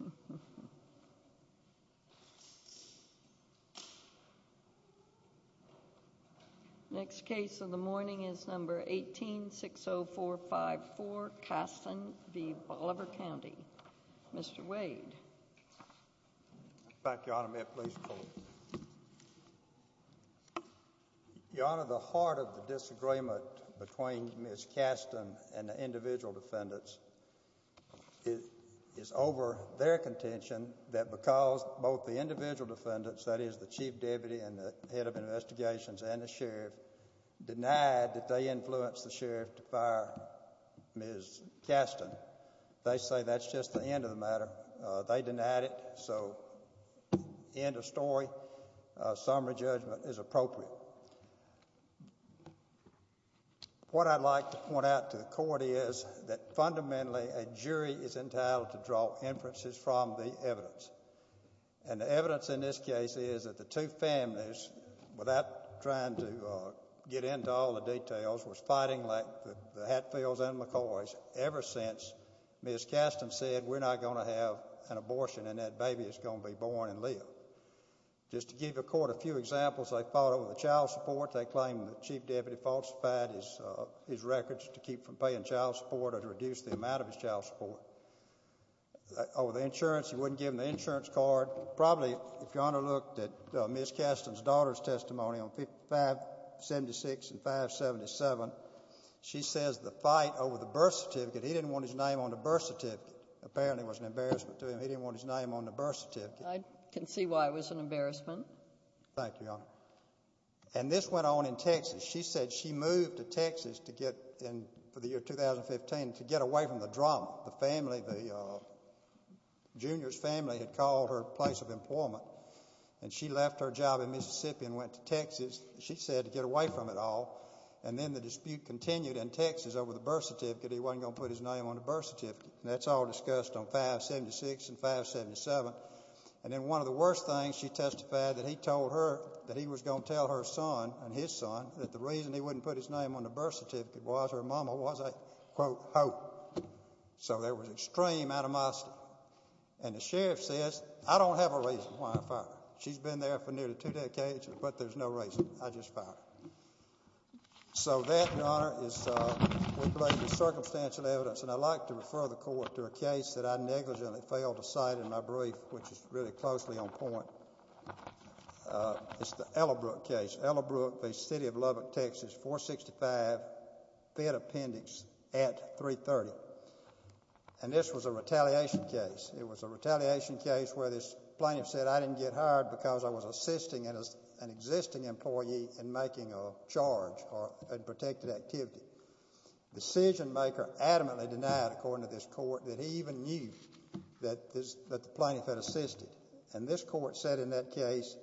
ll. Next case of the morning is number 18-60454, Caston v. Bolivar County. Mr. Wade. Thank you, Ms. Caston and the individual defendants. It is over their contention that because both the individual defendants, that is the Chief Deputy and the Head of Investigations and the Sheriff, denied that they influenced the Sheriff to fire Ms. Caston, they say that's just the end of the matter. They denied it, so end of story. A summary judgment is appropriate. So, what I'd like to point out to the court is that fundamentally a jury is entitled to draw inferences from the evidence. And the evidence in this case is that the two families, without trying to get into all the details, was fighting like the Hatfields and McCoys ever since Ms. Caston said, we're not going to have an abortion and that baby is going to be born and live. Just to give the court a few examples, they fought over the child support. They claimed that Chief Deputy falsified his records to keep from paying child support or to reduce the amount of his child support. Over the insurance, he wouldn't give him the insurance card. Probably, if you underlooked Ms. Caston's daughter's testimony on 5-76 and 5-77, she says the fight over the birth certificate, he didn't want his name on the birth certificate. I can see why it was an embarrassment. Thank you, Your Honor. And this went on in Texas. She said she moved to Texas for the year 2015 to get away from the drama. The family, the junior's family had called her a place of employment and she left her job in Mississippi and went to Texas, she said, to get away from it all. And then the dispute continued in Texas over the birth certificate. He wasn't going to put his name on the birth certificate. And that's all discussed on 5-76 and 5-77. And then one of the worst things, she testified that he told her that he was going to tell her son and his son that the reason he wouldn't put his name on the birth certificate was her mama was a, quote, hoe. So there was extreme animosity. And the sheriff says, I don't have a reason why I fired her. She's been there for nearly two decades, but there's no reason. I just And I'd like to refer the court to a case that I negligently failed to cite in my brief, which is really closely on point. It's the Ellerbrook case. Ellerbrook v. City of Lubbock, Texas, 465, Fed Appendix at 330. And this was a retaliation case. It was a retaliation case where this plaintiff said, I didn't get hired because I was assisting an existing employee in making a charge or a protected activity. Decisionmaker adamantly denied, according to this court, that he even knew that the plaintiff had assisted. And this court said in that case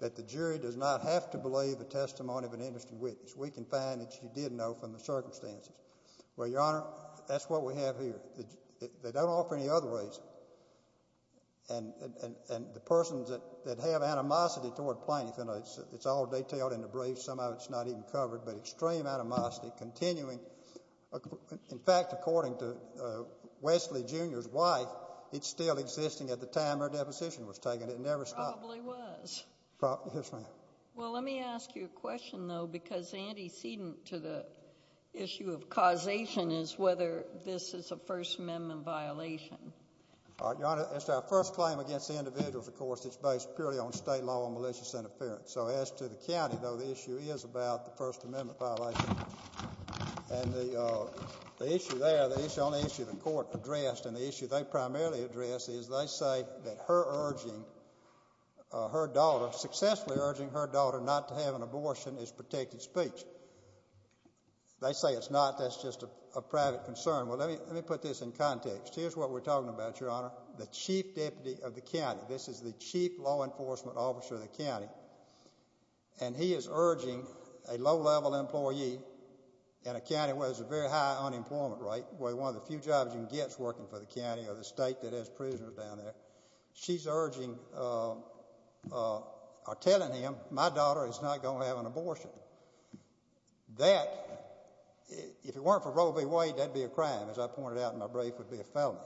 that the jury does not have to believe the testimony of an interested witness. We can find that she did know from the circumstances. Well, Your Honor, that's what we have here. They don't offer any other reason. And the persons that have animosity toward the plaintiff, and it's all detailed in the brief. Some of it's not even covered, but extreme animosity continuing. In fact, according to Wesley Jr.'s wife, it's still existing at the time her deposition was taken. It never stopped. Probably was. Yes, ma'am. Well, let me ask you a question, though, because antecedent to the issue of causation is whether this is a First Amendment violation. Your Honor, it's our first claim against the individuals, of course, that's based purely on state law and malicious interference. So as to the county, though, the issue is about the First Amendment violation. And the issue there, the only issue the court addressed and the issue they primarily addressed is they say that her urging her daughter, successfully urging her daughter not to have an abortion is protected speech. They say it's not. That's just a private concern. Well, let me put this in context. Here's what we're talking about, Your Honor. The chief deputy of the county, this is the chief law enforcement officer of the county, and he is urging a low-level employee in a county where there's a very high unemployment rate, where one of the few jobs you can get is working for the county or the state that has prisoners down there. She's urging or telling him, my daughter is not going to have an abortion. That, if it weren't for Roe v. Wade, that'd be a crime, as I pointed out in my brief, would be a felony.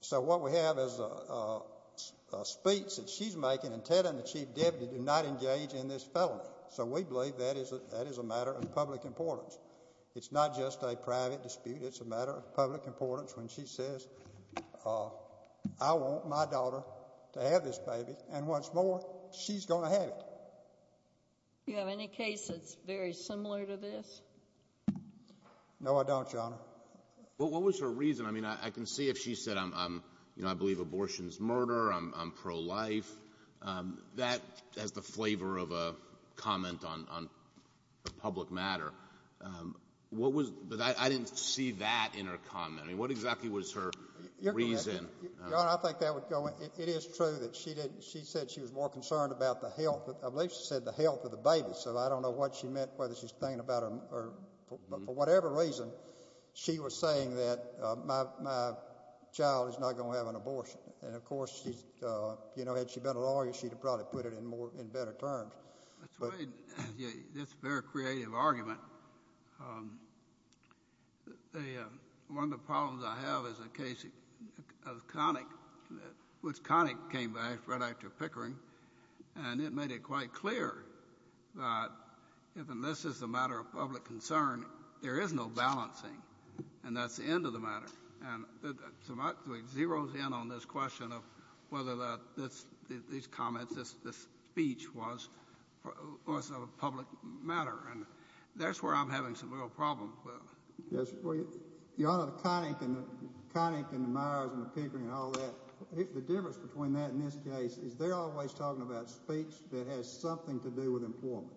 So what we have is a speech that she's making and Ted and the chief deputy do not engage in this felony. So we believe that is a matter of public importance. It's not just a private dispute. It's a matter of public importance when she says, I want my daughter to have this baby, and what's more, she's going to have it. Do you have any cases very similar to this? No, I don't, Your Honor. Well, what was her reason? I mean, I can see if she said, you know, I believe abortion is murder, I'm pro-life. That has the flavor of a comment on a public matter. What was, I didn't see that in her comment. I mean, what exactly was her reason? Your Honor, I think that would go, it is true that she didn't, she said she was more concerned about the health, I believe she said the health of the baby. So I don't know what she meant, whether she's thinking or for whatever reason, she was saying that my child is not going to have an abortion, and of course, she's, you know, had she been a lawyer, she'd have probably put it in more, in better terms. That's a very creative argument. One of the problems I have is a case of Connick, which Connick came back right after Pickering, and it made it quite clear that if, unless it's a matter of public concern, there is no balancing, and that's the end of the matter. And it zeroes in on this question of whether these comments, this speech was a public matter, and that's where I'm having some real problems with. Yes, well, Your Honor, Connick and Myers and Pickering and all that, the difference between that and this case is they're always talking about speech that has something to do with employment.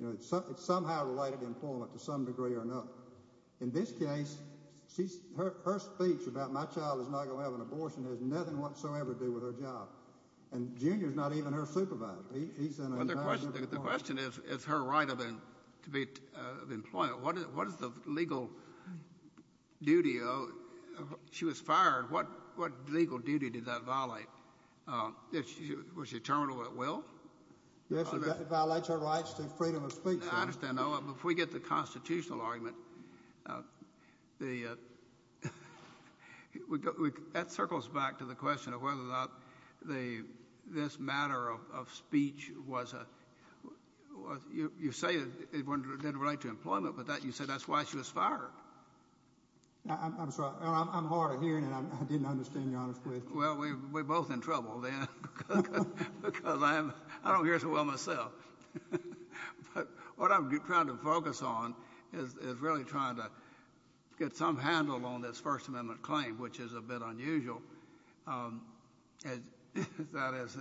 You know, it's somehow related to employment to some degree or another. In this case, she's, her speech about my child is not going to have an abortion has nothing whatsoever to do with her job, and Junior's not even her supervisor. The question is, is her right of to be of employment, what is the legal duty? She was fired. What legal duty did that violate? Was she terminally at will? Yes, it violates her rights to freedom of speech. I understand. Now, if we get the constitutional argument, that circles back to the question of whether or not this matter of speech was a, you say it didn't relate to employment, but you said that's why she was fired. I'm sorry, I'm hard of hearing, and I didn't understand, Your Honor's question. Well, we're both in trouble then, because I don't hear so well myself. But what I'm trying to focus on is really trying to get some handle on this First Amendment claim, which is a bit unusual. That is,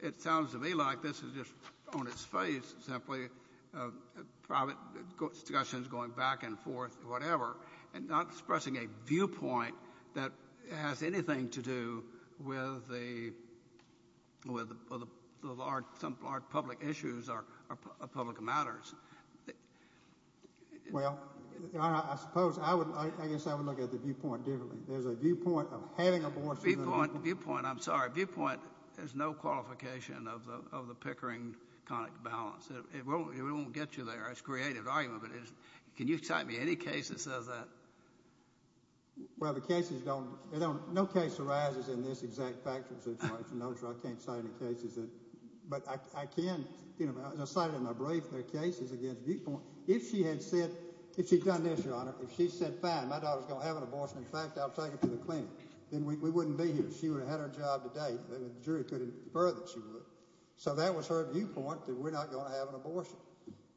it sounds to me like this is just on its face, simply private discussions going back and forth, whatever, and not expressing a viewpoint that has anything to do with the large public issues or public matters. Well, Your Honor, I suppose I would, I guess I would look at the viewpoint of having an abortion. Viewpoint, I'm sorry, viewpoint is no qualification of the Pickering-Connick balance. It won't get you there. It's a creative argument, but can you cite me any case that says that? Well, the cases don't, no case arises in this exact factual situation. I'm sure I can't cite any cases that, but I can, you know, I cited in my brief their cases against viewpoint. If she had said, if she'd done this, Your Honor, if she said, fine, my daughter's going to have an abortion. In fact, I'll take her to the clinic. Then we wouldn't be here. She would have had her job to date. The jury could infer that she would. So that was her viewpoint that we're not going to have an abortion.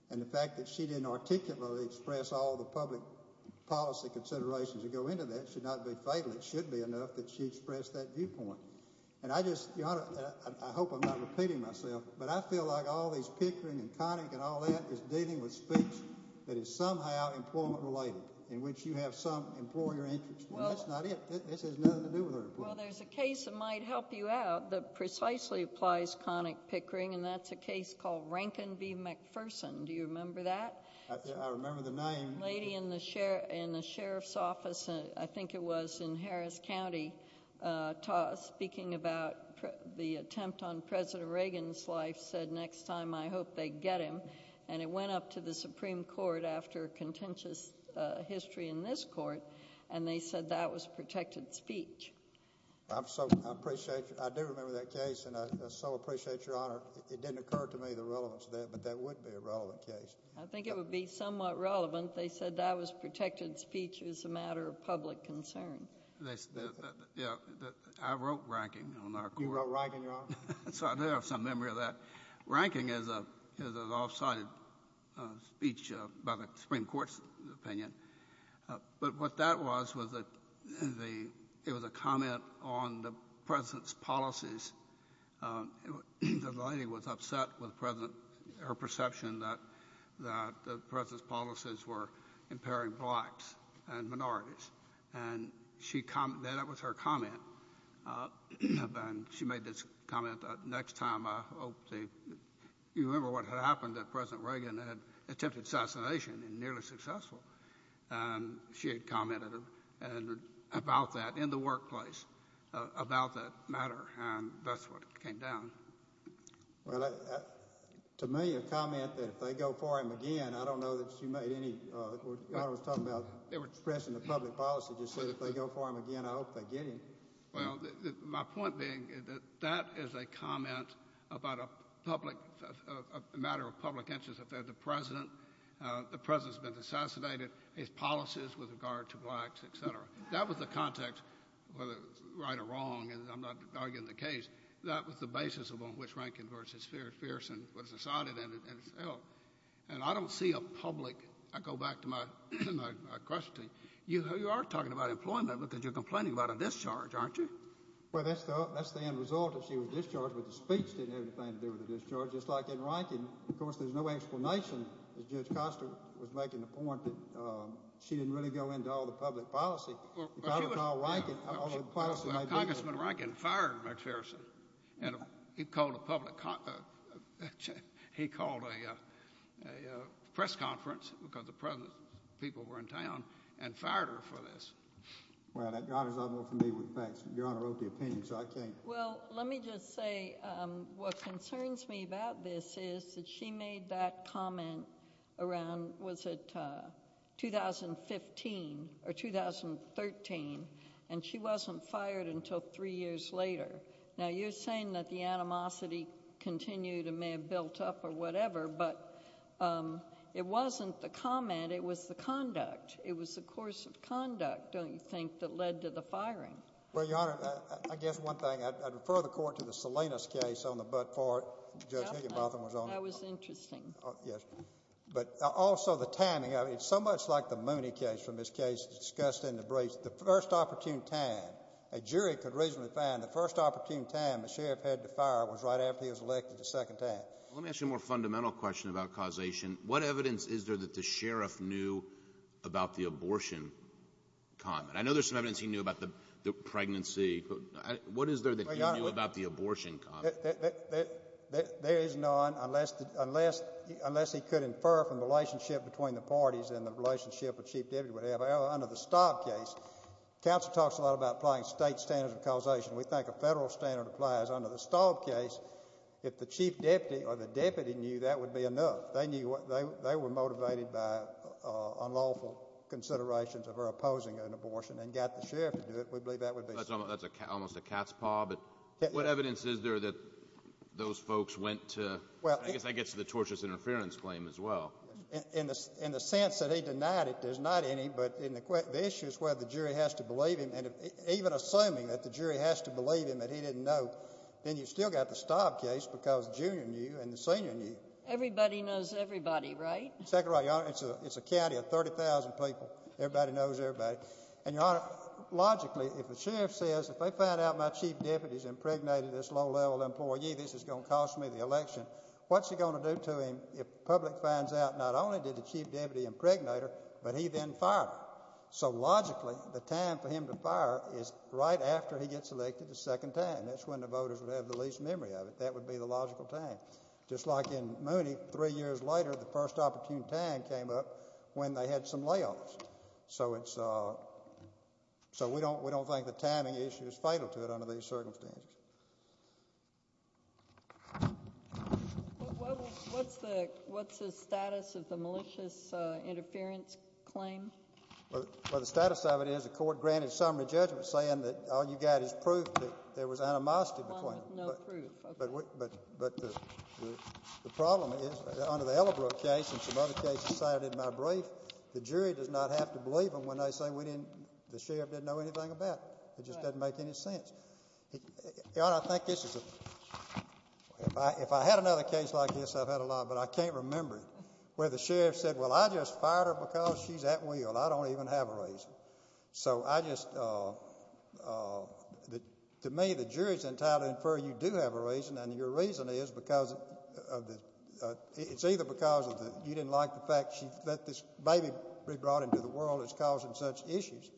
And the fact that she didn't articulately express all the public policy considerations that go into that should not be fatal. It should be enough that she expressed that viewpoint. And I just, Your Honor, I hope I'm not repeating myself, but I feel like all these Pickering and Connick and all that is dealing with speech that is somehow employment-related, in which you have some employer interest. Well, that's not it. This has nothing to do with her. Well, there's a case that might help you out that precisely applies Connick Pickering, and that's a case called Rankin v. McPherson. Do you remember that? I remember the name. Lady in the sheriff's office, I think it was in Harris County, speaking about the attempt on President Reagan's life, said next time I hope they get him. And it went up to the Supreme Court after contentious history in this court, and they said that was protected speech. I do remember that case, and I so appreciate, Your Honor. It didn't occur to me the relevance of that, but that would be a relevant case. I think it would be somewhat relevant. They said that was protected speech. It was a matter of public concern. I wrote Rankin on our court. You wrote Rankin, Your Honor? So I do have some cited speech about the Supreme Court's opinion. But what that was, was that the — it was a comment on the president's policies. The lady was upset with the president, her perception that the president's policies were impairing blacks and minorities. And she — that was her comment. And she made this comment, next time I hope they — you remember what had happened, that President Reagan had attempted assassination and nearly successful. And she had commented about that in the workplace, about that matter, and that's what came down. Well, to me, a comment that if they go for him again, I don't know that she made any — Your Honor was talking about expressing the public policy, just said if they go for him again, I hope they get him. Well, my point being that that is a comment about a public — a matter of public interest. If they're the president, the president's been assassinated, his policies with regard to blacks, et cetera. That was the context, whether right or wrong, and I'm not arguing the case. That was the basis on which Rankin v. Pearson was decided in itself. And I don't see a public — I go back to my question. You are talking about employment because you're complaining about a discharge, aren't you? Well, that's the end result, that she was discharged, but the speech didn't have anything to do with the discharge, just like in Rankin. Of course, there's no explanation, as Judge Costa was making the point, that she didn't really go into all the public policy. If I were to call Rankin, all the policy — Congressman Rankin fired Judge Pearson, and he called a public — he called a press conference, because the president's people were in town, and fired her for this. Well, Your Honor, I'm not familiar with facts, but Your Honor wrote the opinion, so I can't — Well, let me just say what concerns me about this is that she made that comment around — was it 2015 or 2013? And she wasn't fired until three years later. Now, you're saying that the animosity continued and may have built up or whatever, but it wasn't the comment. It was the conduct. It was the course of conduct, don't you think, that led to the firing? Well, Your Honor, I guess one thing. I'd refer the Court to the Salinas case on the Butt Part. Judge Higginbotham was on it. That was interesting. Yes. But also the timing. I mean, it's so much like the Mooney case from this case discussed in the briefs. The first opportune time — a jury could reasonably find the first opportune time the sheriff had to fire was right after he was elected the second time. Well, let me ask you a more fundamental question about causation. What evidence is there that the sheriff knew about the abortion comment? I know there's some evidence he knew about the pregnancy, but what is there that he knew about the abortion comment? There is none unless he could infer from the relationship between the parties and the about applying state standards of causation. We think a federal standard applies. Under the Staub case, if the chief deputy or the deputy knew, that would be enough. They knew — they were motivated by unlawful considerations of her opposing an abortion and got the sheriff to do it. We believe that would be sufficient. That's almost a cat's paw, but what evidence is there that those folks went to — I guess that gets to the torturous interference claim as well. In the sense that they denied it, there's not any, but in the issue is whether the jury has to believe him. And even assuming that the jury has to believe him that he didn't know, then you still got the Staub case because the junior knew and the senior knew. Everybody knows everybody, right? Second right, Your Honor. It's a county of 30,000 people. Everybody knows everybody. And, Your Honor, logically, if the sheriff says, if they find out my chief deputy's impregnated this low-level employee, this is going to cost me the election, what's it going to do to him if the public finds out not only did the chief deputy impregnate her, but he then fired her? So logically, the time for him to fire is right after he gets elected, the second time. That's when the voters would have the least memory of it. That would be the logical time. Just like in Mooney, three years later, the first opportune time came up when they had some layoffs. So it's — so we don't think the timing issue is fatal to it under these circumstances. What's the status of the malicious interference claim? Well, the status of it is the court granted summary judgment saying that all you got is proof that there was animosity between them. No proof, okay. But the problem is, under the Ellerbrook case and some other cases cited in my brief, the jury does not have to believe them when they say we didn't — the sheriff didn't know anything about it. It just doesn't make any sense. I think this is — if I had another case like this, I've had a lot, but I can't remember it, where the sheriff said, well, I just fired her because she's at will. I don't even have a reason. So I just — to me, the jury's entitled to infer you do have a reason, and your reason is because of the — it's either because you didn't like the fact that this baby brought into the world it's causing such issues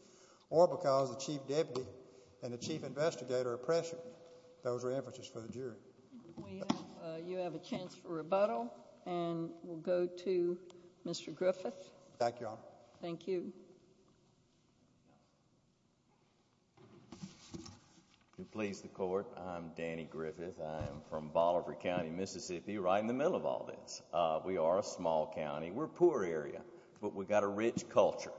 or because the chief deputy and the chief investigator are pressuring. Those are inferences for the jury. You have a chance for rebuttal, and we'll go to Mr. Griffith. Thank you, Your Honor. Thank you. To please the court, I'm Danny Griffith. I am from Bolivar County, Mississippi, right in the middle of all this. We are a small county. We're a poor area, but we've got a rich culture.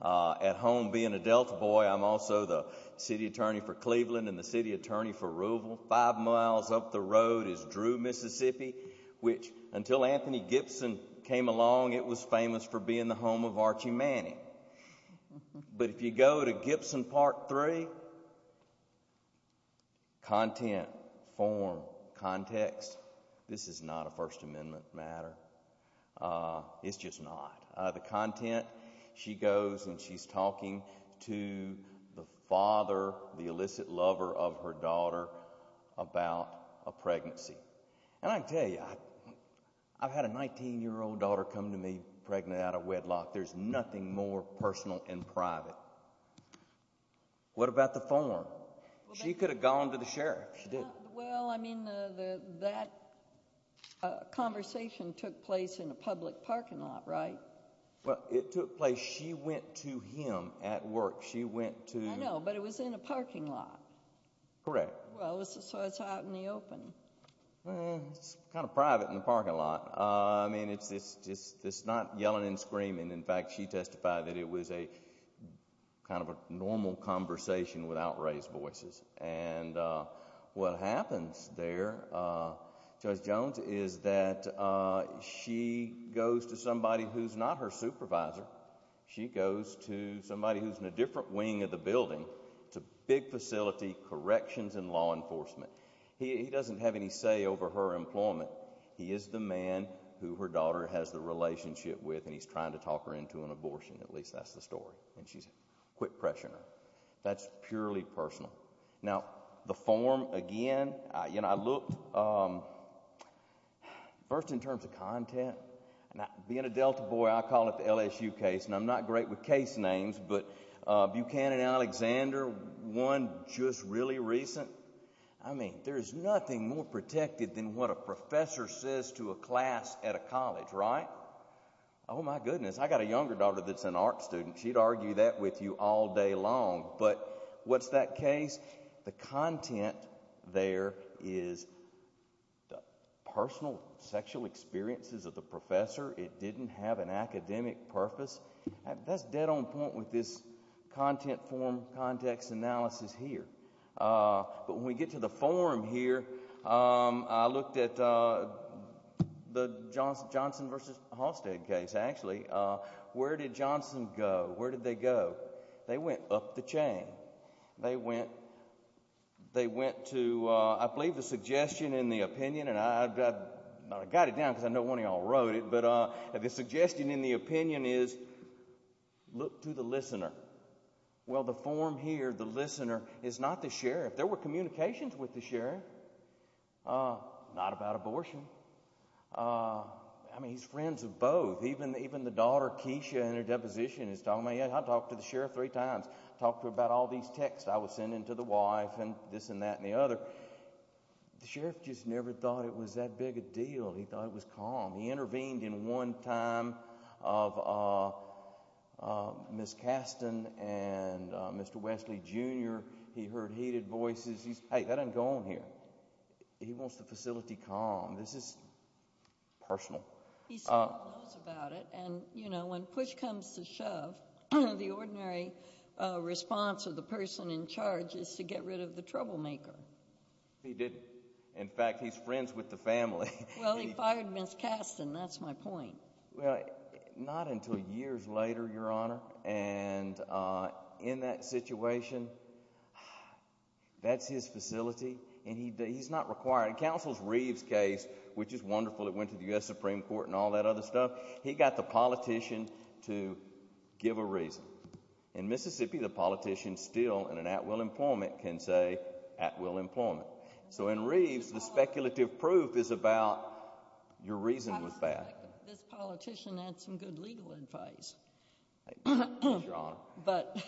At home, being a Delta boy, I'm also the city attorney for Cleveland and the city attorney for Arruval. Five miles up the road is Drew, Mississippi, which, until Anthony Gibson came along, it was famous for being the home of Archie Manning. But if you go to Gibson Part 3 — content, form, context — this is not a First Amendment matter. It's just not. The content, she goes and she's talking to the father, the illicit lover of her daughter, about a pregnancy. And I tell you, I've had a 19-year-old daughter come to me pregnant out of wedlock. There's nothing more personal and private. What about the form? She could have gone to the sheriff. She did. I mean, that conversation took place in a public parking lot, right? Well, it took place — she went to him at work. She went to — I know, but it was in a parking lot. Correct. Well, so it's out in the open. Well, it's kind of private in the parking lot. I mean, it's just not yelling and screaming. In fact, she testified that it was a kind of a normal conversation without raised voices. And what happens there, Judge Jones, is that she goes to somebody who's not her supervisor. She goes to somebody who's in a different wing of the building to big facility corrections and law enforcement. He doesn't have any say over her employment. He is the man who her daughter has the relationship with, and he's trying to talk her into an abortion. At least that's the story. And she said, quit pressuring her. That's purely personal. Now, the form, again, you know, I looked — first in terms of content, being a Delta boy, I call it the LSU case, and I'm not great with case names, but Buchanan Alexander, one just really recent. I mean, there is nothing more protected than what a professor says to a class at a college, right? Oh, my goodness. I got a younger daughter that's an art student. She'd argue that with you all day long. But what's that case? The content there is the personal sexual experiences of the professor. It didn't have an academic purpose. That's dead on point with this content form context analysis here. But when we get to the form here, I looked at the Johnson versus Halstead case, actually. Where did Johnson go? Where did they go? They went up the chain. They went to, I believe, the suggestion in the opinion, and I got it down because I know one of y'all wrote it. But the suggestion in the opinion is look to the listener. Well, the form here, the listener, is not the sheriff. There were communications with the sheriff. Not about abortion. I mean, he's friends of both. Even the daughter, Keisha, in her deposition is talking about, yeah, I talked to the sheriff three times. Talked to him about all these texts I was sending to the wife and this and that and the other. The sheriff just never thought it was that big a deal. He thought he heard heated voices. He said, hey, that doesn't go on here. He wants the facility calm. This is personal. He still knows about it. And, you know, when push comes to shove, the ordinary response of the person in charge is to get rid of the troublemaker. He did. In fact, he's friends with the family. Well, he fired Ms. Kasten. That's my point. Well, not until years later, your honor. And in that situation, that's his facility. And he's not required. Counsel's Reeves case, which is wonderful, it went to the U.S. Supreme Court and all that other stuff. He got the politician to give a reason. In Mississippi, the politician still in an at will employment can say at will employment. So in Reeves, the speculative proof is about your reason with that. This politician had some good legal advice. But,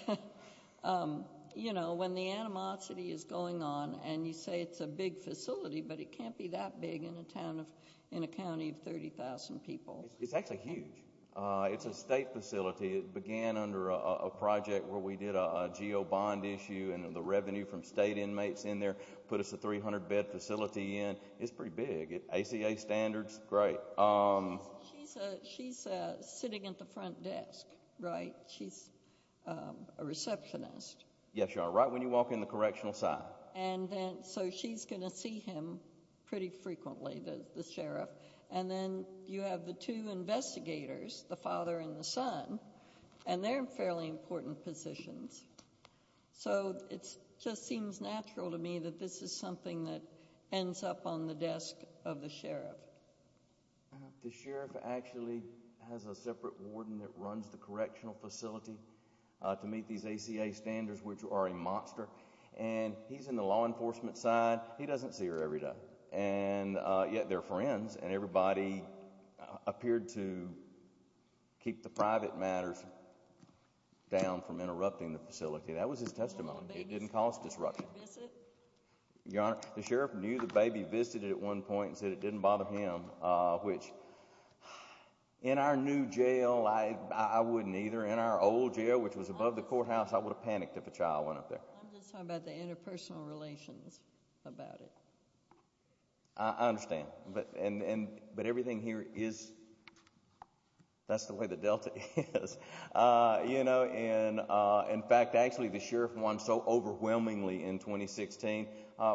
you know, when the animosity is going on and you say it's a big facility, but it can't be that big in a town of in a county of 30,000 people. It's actually huge. It's a state facility. It began under a project where we did a geo bond issue and the revenue from state inmates in there put us a 300 bed facility in. It's pretty big. ACA standards. Great. She's sitting at the front desk, right? She's a receptionist. Yes, your honor. Right when you walk in the correctional side. And then so she's going to see him pretty frequently, the sheriff. And then you have the two investigators, the father and the son, and they're fairly important positions. So it's just seems natural to me that this is something that ends up on the desk of the sheriff. The sheriff actually has a separate warden that runs the correctional facility to meet these ACA standards, which are a monster. And he's in the law enforcement side. He doesn't see her every day. And yet they're friends. And everybody appeared to keep the private matters down from interrupting the facility. That was his testimony. It didn't cause disruption. The sheriff knew the baby visited at one point and said it didn't bother him, which in our new jail, I wouldn't either. In our old jail, which was above the courthouse, I would have panicked if a child went up there. I'm just talking about the interpersonal relations about it. I understand. But and but everything here is that's the way the Delta is, you know. And in fact, actually, the sheriff won so overwhelmingly in 2016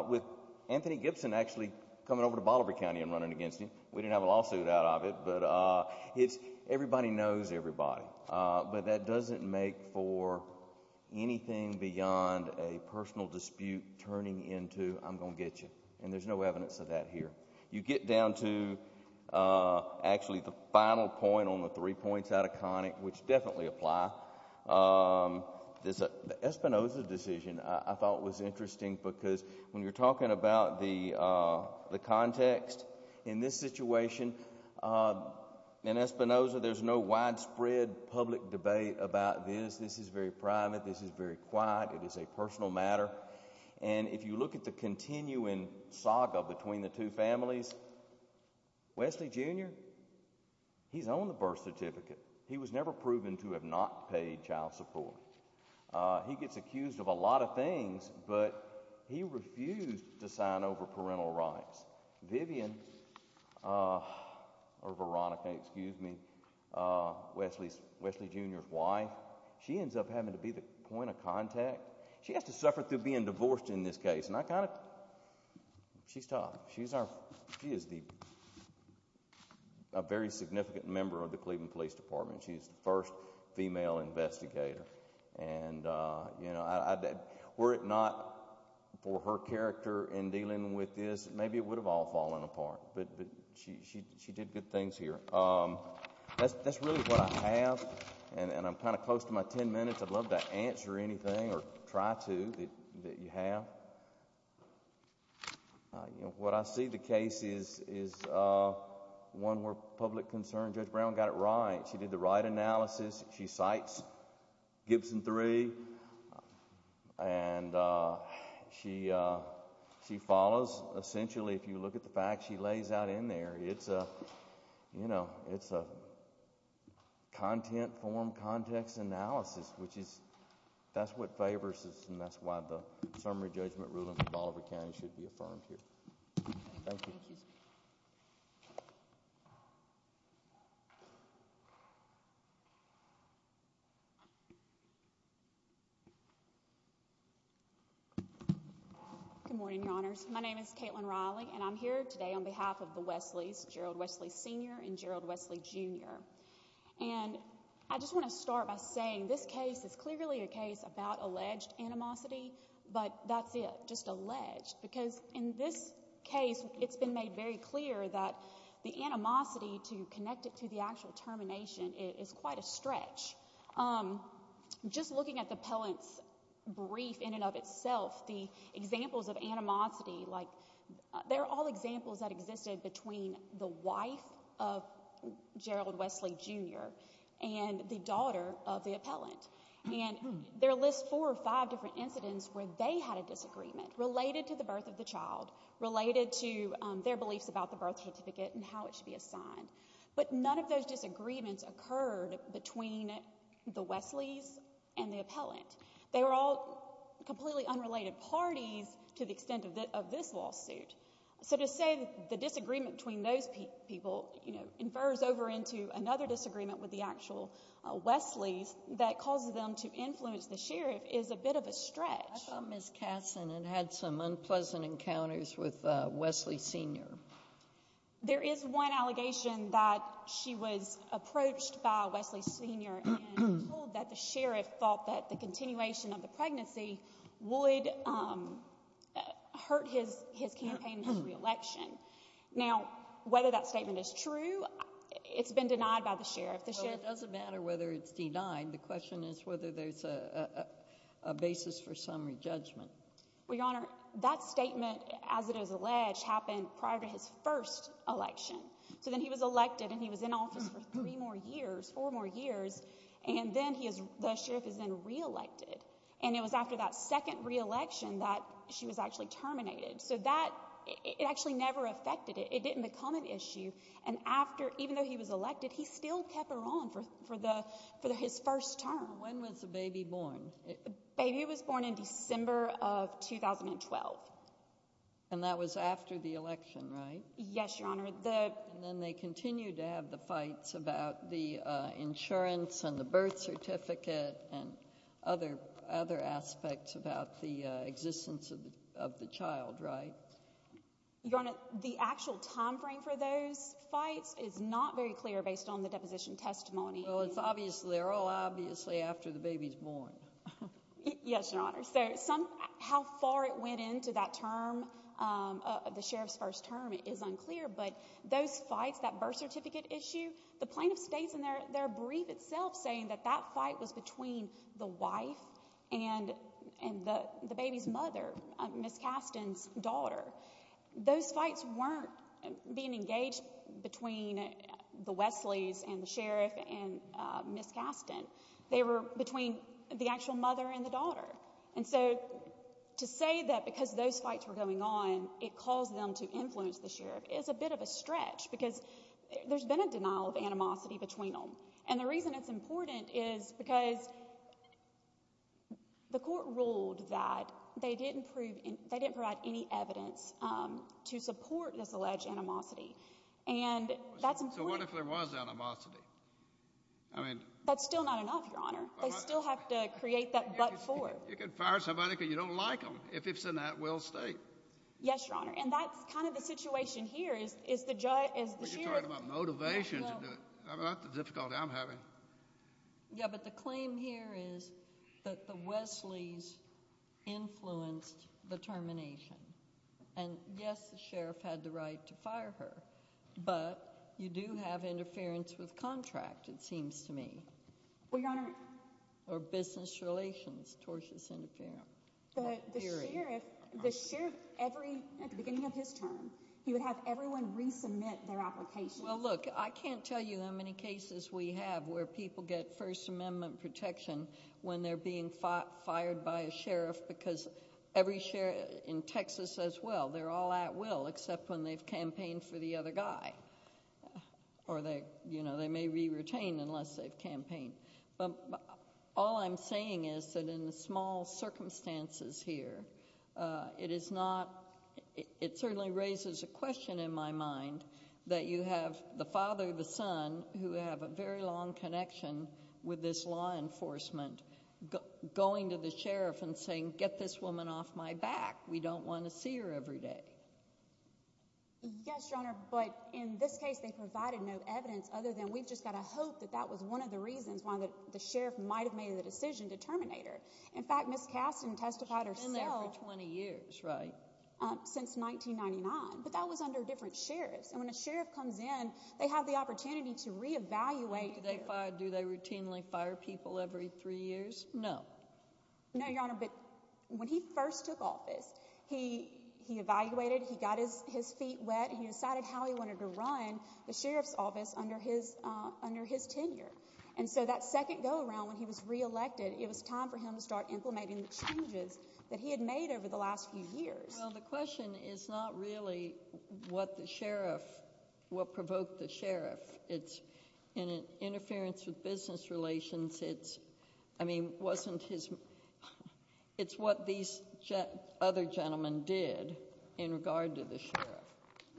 with Anthony Gibson actually coming over to Bolivar County and running against him. We didn't have a lawsuit out of it, but it's everybody knows everybody. But that doesn't make for anything beyond a I'm going to get you. And there's no evidence of that here. You get down to actually the final point on the three points out of Connick, which definitely apply. This Espinoza decision, I thought was interesting because when you're talking about the the context in this situation in Espinoza, there's no widespread public debate about this. This is very private. This is very quiet. It is a personal matter. And if you look at the continuing saga between the two families, Wesley Junior, he's on the birth certificate. He was never proven to have not paid child support. He gets accused of a lot of things, but he refused to sign over having to be the point of contact. She has to suffer through being divorced in this case, and I kind of she's tough. She's our she is the a very significant member of the Cleveland Police Department. She's the first female investigator. And, you know, were it not for her character in dealing with this, maybe it would have all fallen apart. But she she did good things here. That's really what I have. And I'm kind of close to my 10 minutes. I'd love to answer anything or try to that you have. What I see the case is is one more public concern. Judge Brown got it right. She did the right analysis. She cites Gibson three, and she she follows. Essentially, if you look at the fact out in there, it's a, you know, it's a content form context analysis, which is that's what favors us. And that's why the summary judgment ruling Bolivar County should be affirmed here. Thank you. Good morning, Your Honors. My name is Caitlin Riley, and I'm here today on behalf of the Westleys, Gerald Wesley, Sr. and Gerald Wesley, Jr. And I just want to start by saying this case is clearly a case about alleged animosity, but that's it, just alleged. Because in this case, it's been made very clear that the animosity to connect it to the actual termination is quite a stretch. Just looking at the appellant's brief in and of itself, the examples of animosity, like they're all examples that existed between the wife of Gerald Wesley, Jr. and the daughter of the appellant. And there are at least four or five different incidents where they had a disagreement related to the birth of the child, related to their beliefs about the birth certificate and how it should be assigned. But none of those disagreements occurred between the Westleys and the appellant. They were all completely unrelated parties to the extent of this lawsuit. So to say the disagreement between those people, you know, infers over into another that causes them to influence the sheriff is a bit of a stretch. I thought Ms. Kassan had had some unpleasant encounters with Wesley, Sr. There is one allegation that she was approached by Wesley, Sr. and told that the sheriff thought that the continuation of the pregnancy would hurt his campaign for re-election. Now, whether that statement is true, it's been denied by the sheriff. It doesn't matter whether it's denied. The question is whether there's a basis for some re-judgment. Well, Your Honor, that statement, as it is alleged, happened prior to his first election. So then he was elected and he was in office for three more years, four more years. And then he is, the sheriff is then re-elected. And it was after that second re-election that she was actually terminated. So that, it actually never affected it. It didn't become an issue. And after, even though he was elected, he still kept her on for his first term. When was the baby born? Baby was born in December of 2012. And that was after the election, right? Yes, Your Honor. And then they continued to have the fights about the insurance and the birth certificate and other aspects about the existence of the child, right? Your Honor, the actual time frame for those fights is not very clear based on the deposition testimony. Well, it's obviously, they're all obviously after the baby's born. Yes, Your Honor. So some, how far it went into that term, the sheriff's first term, it is unclear. But those fights, that birth certificate issue, the plaintiff states in their brief itself saying that that fight was between the wife and the baby's mother, Ms. Kasten's daughter. Those fights weren't being engaged between the Wesleys and the sheriff and Ms. Kasten. They were between the actual mother and the daughter. And so to say that because those fights were going on, it caused them to influence the sheriff is a bit of a stretch because there's been a denial of animosity between them. And the reason it's important is because the court ruled that they didn't prove, they didn't provide any evidence to support this alleged animosity. And that's important. So what if there was animosity? I mean. That's still not enough, Your Honor. They still have to create that but for. You can fire somebody because you don't like them. If it's in that will state. Yes, Your Honor. And that's kind of the situation here is the judge, is the sheriff. Motivation. Yeah, but the claim here is that the Wesleys influenced the termination. And yes, the sheriff had the right to fire her. But you do have interference with contract, it seems to me. Well, Your Honor. Or business relations tortious interference. But the sheriff, the sheriff, every at the beginning of his term, he would have everyone resubmit their application. Well, look, I can't tell you how many cases we have where people get First Amendment protection when they're being fired by a sheriff because every sheriff in Texas says, well, they're all at will except when they've campaigned for the other guy. Or they, you know, they may be retained unless they've campaigned. But all I'm saying is that in the small circumstances here, it is not it certainly raises a question in my mind that you have the father, the son who have a very long connection with this law enforcement going to the sheriff and saying, get this woman off my back. We don't want to see her every day. Yes, Your Honor. But in this case, they provided no evidence other than we've just got to hope that that was one of the reasons why the sheriff might have made the decision to terminate her. In fact, Miss Kasten testified herself 20 years, right, since 1999. But that was under different sheriffs. And when a sheriff comes in, they have the opportunity to reevaluate. Do they fire? Do they routinely fire people every three years? No, no, Your Honor. But when he first took office, he he evaluated he got his his feet wet. He decided how he wanted to run the sheriff's office under his under his tenure. And so that second go around when he was reelected, it was time for him to start implementing the changes that he had made over the last few years. Well, the question is not really what the sheriff what provoked the sheriff. It's an interference with business relations. It's I mean, wasn't his. It's what these other gentlemen did in regard to the sheriff.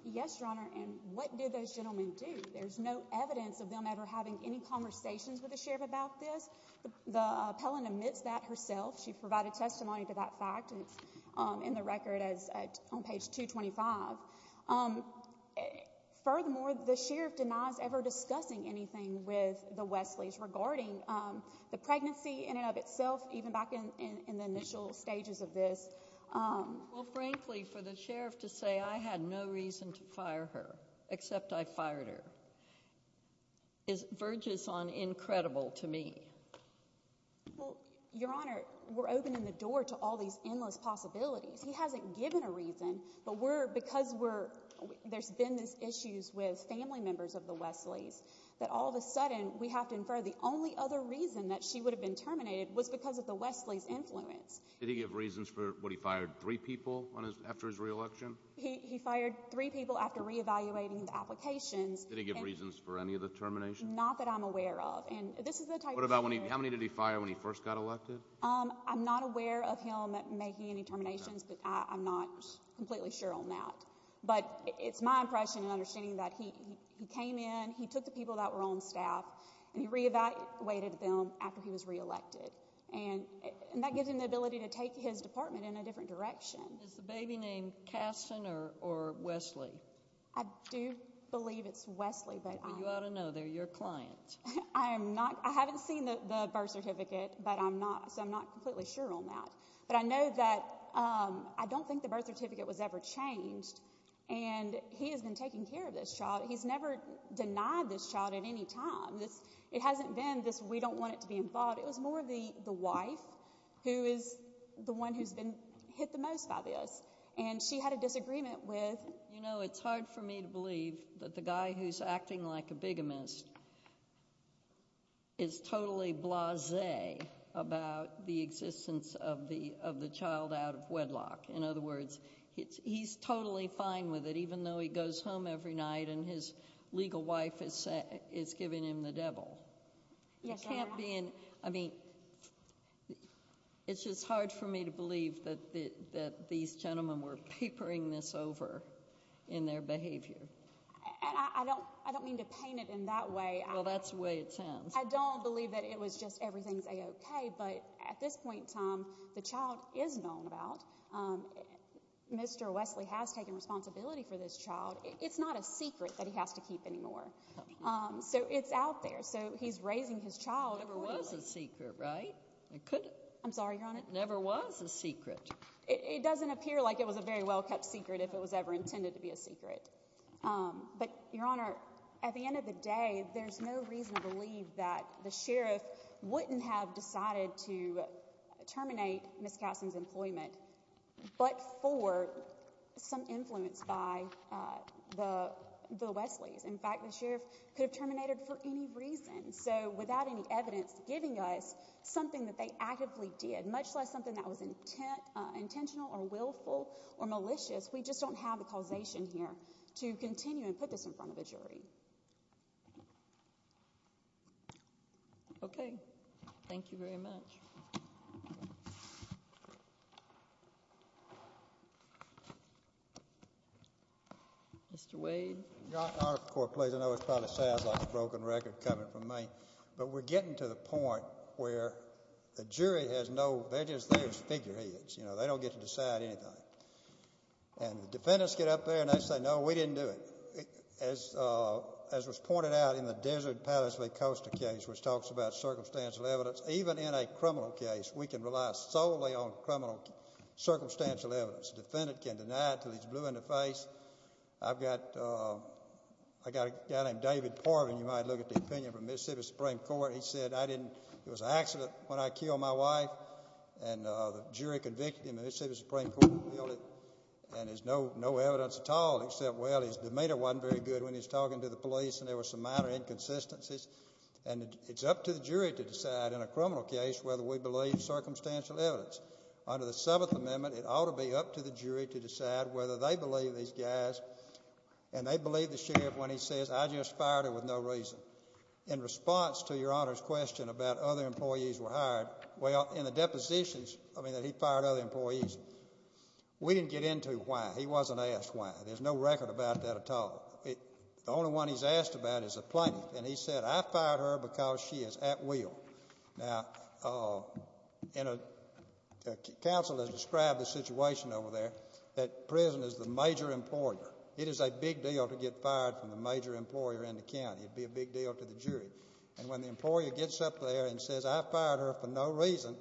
Yes, Your Honor. And what did those gentlemen do? There's no evidence of them ever having any conversations with the sheriff about this. The appellant admits that herself. She provided testimony to that fact in the record as on page 225. Furthermore, the sheriff denies ever discussing anything with the Westleys regarding the pregnancy in and of itself, even back in the initial stages of this. Well, frankly, for the sheriff to say I had no reason to fire her except I fired her. Is verges on incredible to me. Well, Your Honor, we're opening the door to all these endless possibilities. He hasn't given a reason. But we're because we're there's been this issues with family members of the Westleys that all of a sudden we have to infer the only other reason that she would have been terminated was because of the Westleys influence. Did he give reasons for what he fired three people on his after his reelection? He fired three people after reevaluating the applications. Did he give reasons for any of the termination? Not that I'm aware of. And this is the type. What about when he how many did he fire when he first got elected? I'm not aware of him making any terminations, but I'm not completely sure on that. But it's my impression and understanding that he he came in, he took the people that were on staff and he reevaluated them after he was reelected. And that gives him the ability to take his department in a different direction. Is the baby named Kasson or Wesley? I do believe it's Wesley, but you ought to know they're your client. I am not. I haven't seen the birth certificate, but I'm not. So I'm not completely sure on that. But I know that I don't think the birth certificate was ever changed. And he has been taking care of this child. He's never denied this child at any time. This it hasn't been this. We don't want it to be involved. It was more of the wife who is the one who's been hit the most by this. And she had a disagreement with, you know, it's hard for me to believe that the guy who's acting like a bigamist is totally blase about the existence of the of the child out of wedlock. In other words, he's totally fine with it, even though he goes home every night and his wife. It's just hard for me to believe that that these gentlemen were papering this over in their behavior. And I don't I don't mean to paint it in that way. Well, that's the way it sounds. I don't believe that it was just everything's OK. But at this point in time, the child is known about Mr. Wesley has taken responsibility for this child. It's not a secret that he has to keep anymore. So it's out there. So he's raising his child. It was a secret, right? I could. I'm sorry, Your Honor. It never was a secret. It doesn't appear like it was a very well-kept secret if it was ever intended to be a secret. But, Your Honor, at the end of the day, there's no reason to believe that the sheriff wouldn't have decided to terminate Miss Cason's employment, but for some influence by the the Wesley's. In fact, the sheriff could have terminated for any reason. So without any evidence giving us something that they actively did, much less something that was intent, intentional or willful or malicious. We just don't have the causation here to continue and put this in front of a jury. OK, thank you very much. Mr. Wade. Your Honor, please. I know it probably sounds like a broken record coming from me, but we're getting to the point where the jury has no, they're just, they're just figureheads, you know, they don't get to decide anything. And the defendants get up there and they say, no, we didn't do it. As was pointed out in the Desert Palace v. Costa case, which talks about we can rely solely on criminal circumstantial evidence. Defendant can deny it till he's blue in the face. I've got, I got a guy named David Portman. You might look at the opinion from Mississippi Supreme Court. He said, I didn't, it was an accident when I killed my wife. And the jury convicted him and Mississippi Supreme Court revealed it. And there's no, no evidence at all except, well, his demeanor wasn't very good when he's talking to the police and there was some minor inconsistencies. And it's up to the jury to decide in a criminal case whether we believe circumstantial evidence. Under the 7th Amendment, it ought to be up to the jury to decide whether they believe these guys and they believe the sheriff when he says, I just fired her with no reason. In response to your Honor's question about other employees were hired, well, in the depositions, I mean, that he fired other employees, we didn't get into why. He wasn't asked why. There's no record about that at all. The only one he's asked about is a plaintiff. And he said, I fired her because she is at will. Now, in a, counsel has described the situation over there, that prison is the major employer. It is a big deal to get fired from the major employer in the county. It'd be a big deal to the jury. And when the employer gets up there and says, I fired her for no reason,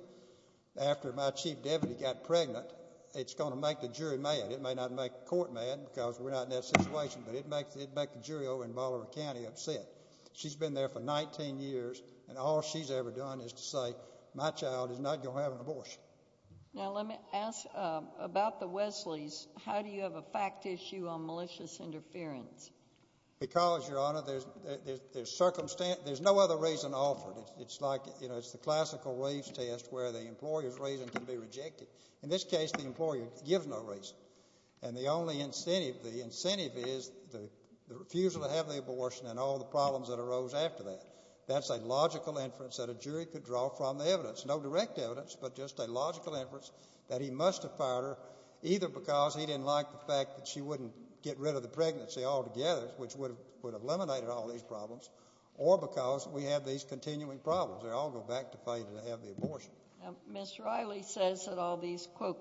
after my chief deputy got pregnant, it's going to make the jury mad. It may not make the court mad because we're not in that situation, but it makes, it'd make the jury over in Ballard County upset. She's been there for 19 years and all she's ever done is to say, my child is not going to have an abortion. Now, let me ask about the Wesley's. How do you have a fact issue on malicious interference? Because your Honor, there's, there's, there's circumstance, there's no other reason offered. It's like, you know, it's the classical race test where the employer's reason can be rejected. In this case, the employer gives no reason. And the only incentive, the incentive is the refusal to have the abortion and all the problems that arose after that. That's a logical inference that a jury could draw from the evidence, no direct evidence, but just a logical inference that he must have fired her either because he didn't like the fact that she wouldn't get rid of the pregnancy altogether, which would have eliminated all these problems, or because we have these continuing problems. They all go back to failure to have the abortion. Mr. Riley says that all these quote,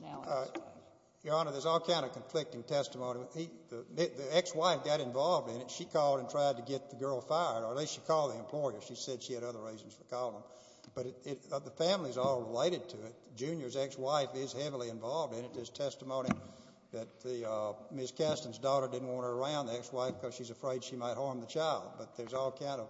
now. Your Honor, there's all kind of conflicting testimony. He, the ex-wife got involved in it. She called and tried to get the girl fired, or at least she called the employer. She said she had other reasons for calling. But it, the family's all related to it. Junior's ex-wife is heavily involved in it. There's testimony that the, uh, Ms. Keston's daughter didn't want her around, the ex-wife, because she's afraid she might harm the child. But there's all kind of,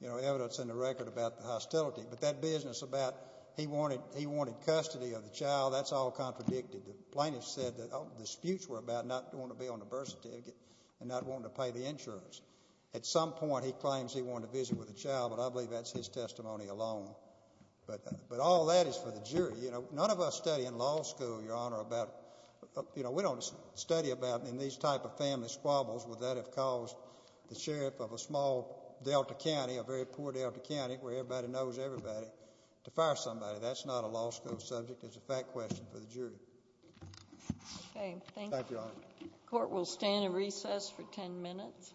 you know, evidence in the record about the hostility. But that business about he wanted, he wanted custody of the child, that's all contradicted. The plaintiff said that, oh, disputes were about not wanting to be on the birth certificate and not wanting to pay the insurance. At some point, he claims he wanted to visit with the child, but I believe that's his testimony alone. But, but all that is for the jury. You know, none of us study in law school, Your Honor, about, you know, we don't study about in these type of family squabbles, would that have caused the sheriff of a small Delta County, a very poor Delta County, where everybody knows everybody, to fire somebody? That's not a law school subject, it's a fact question for the jury. Okay, thank you. Court will stand and recess for 10 minutes.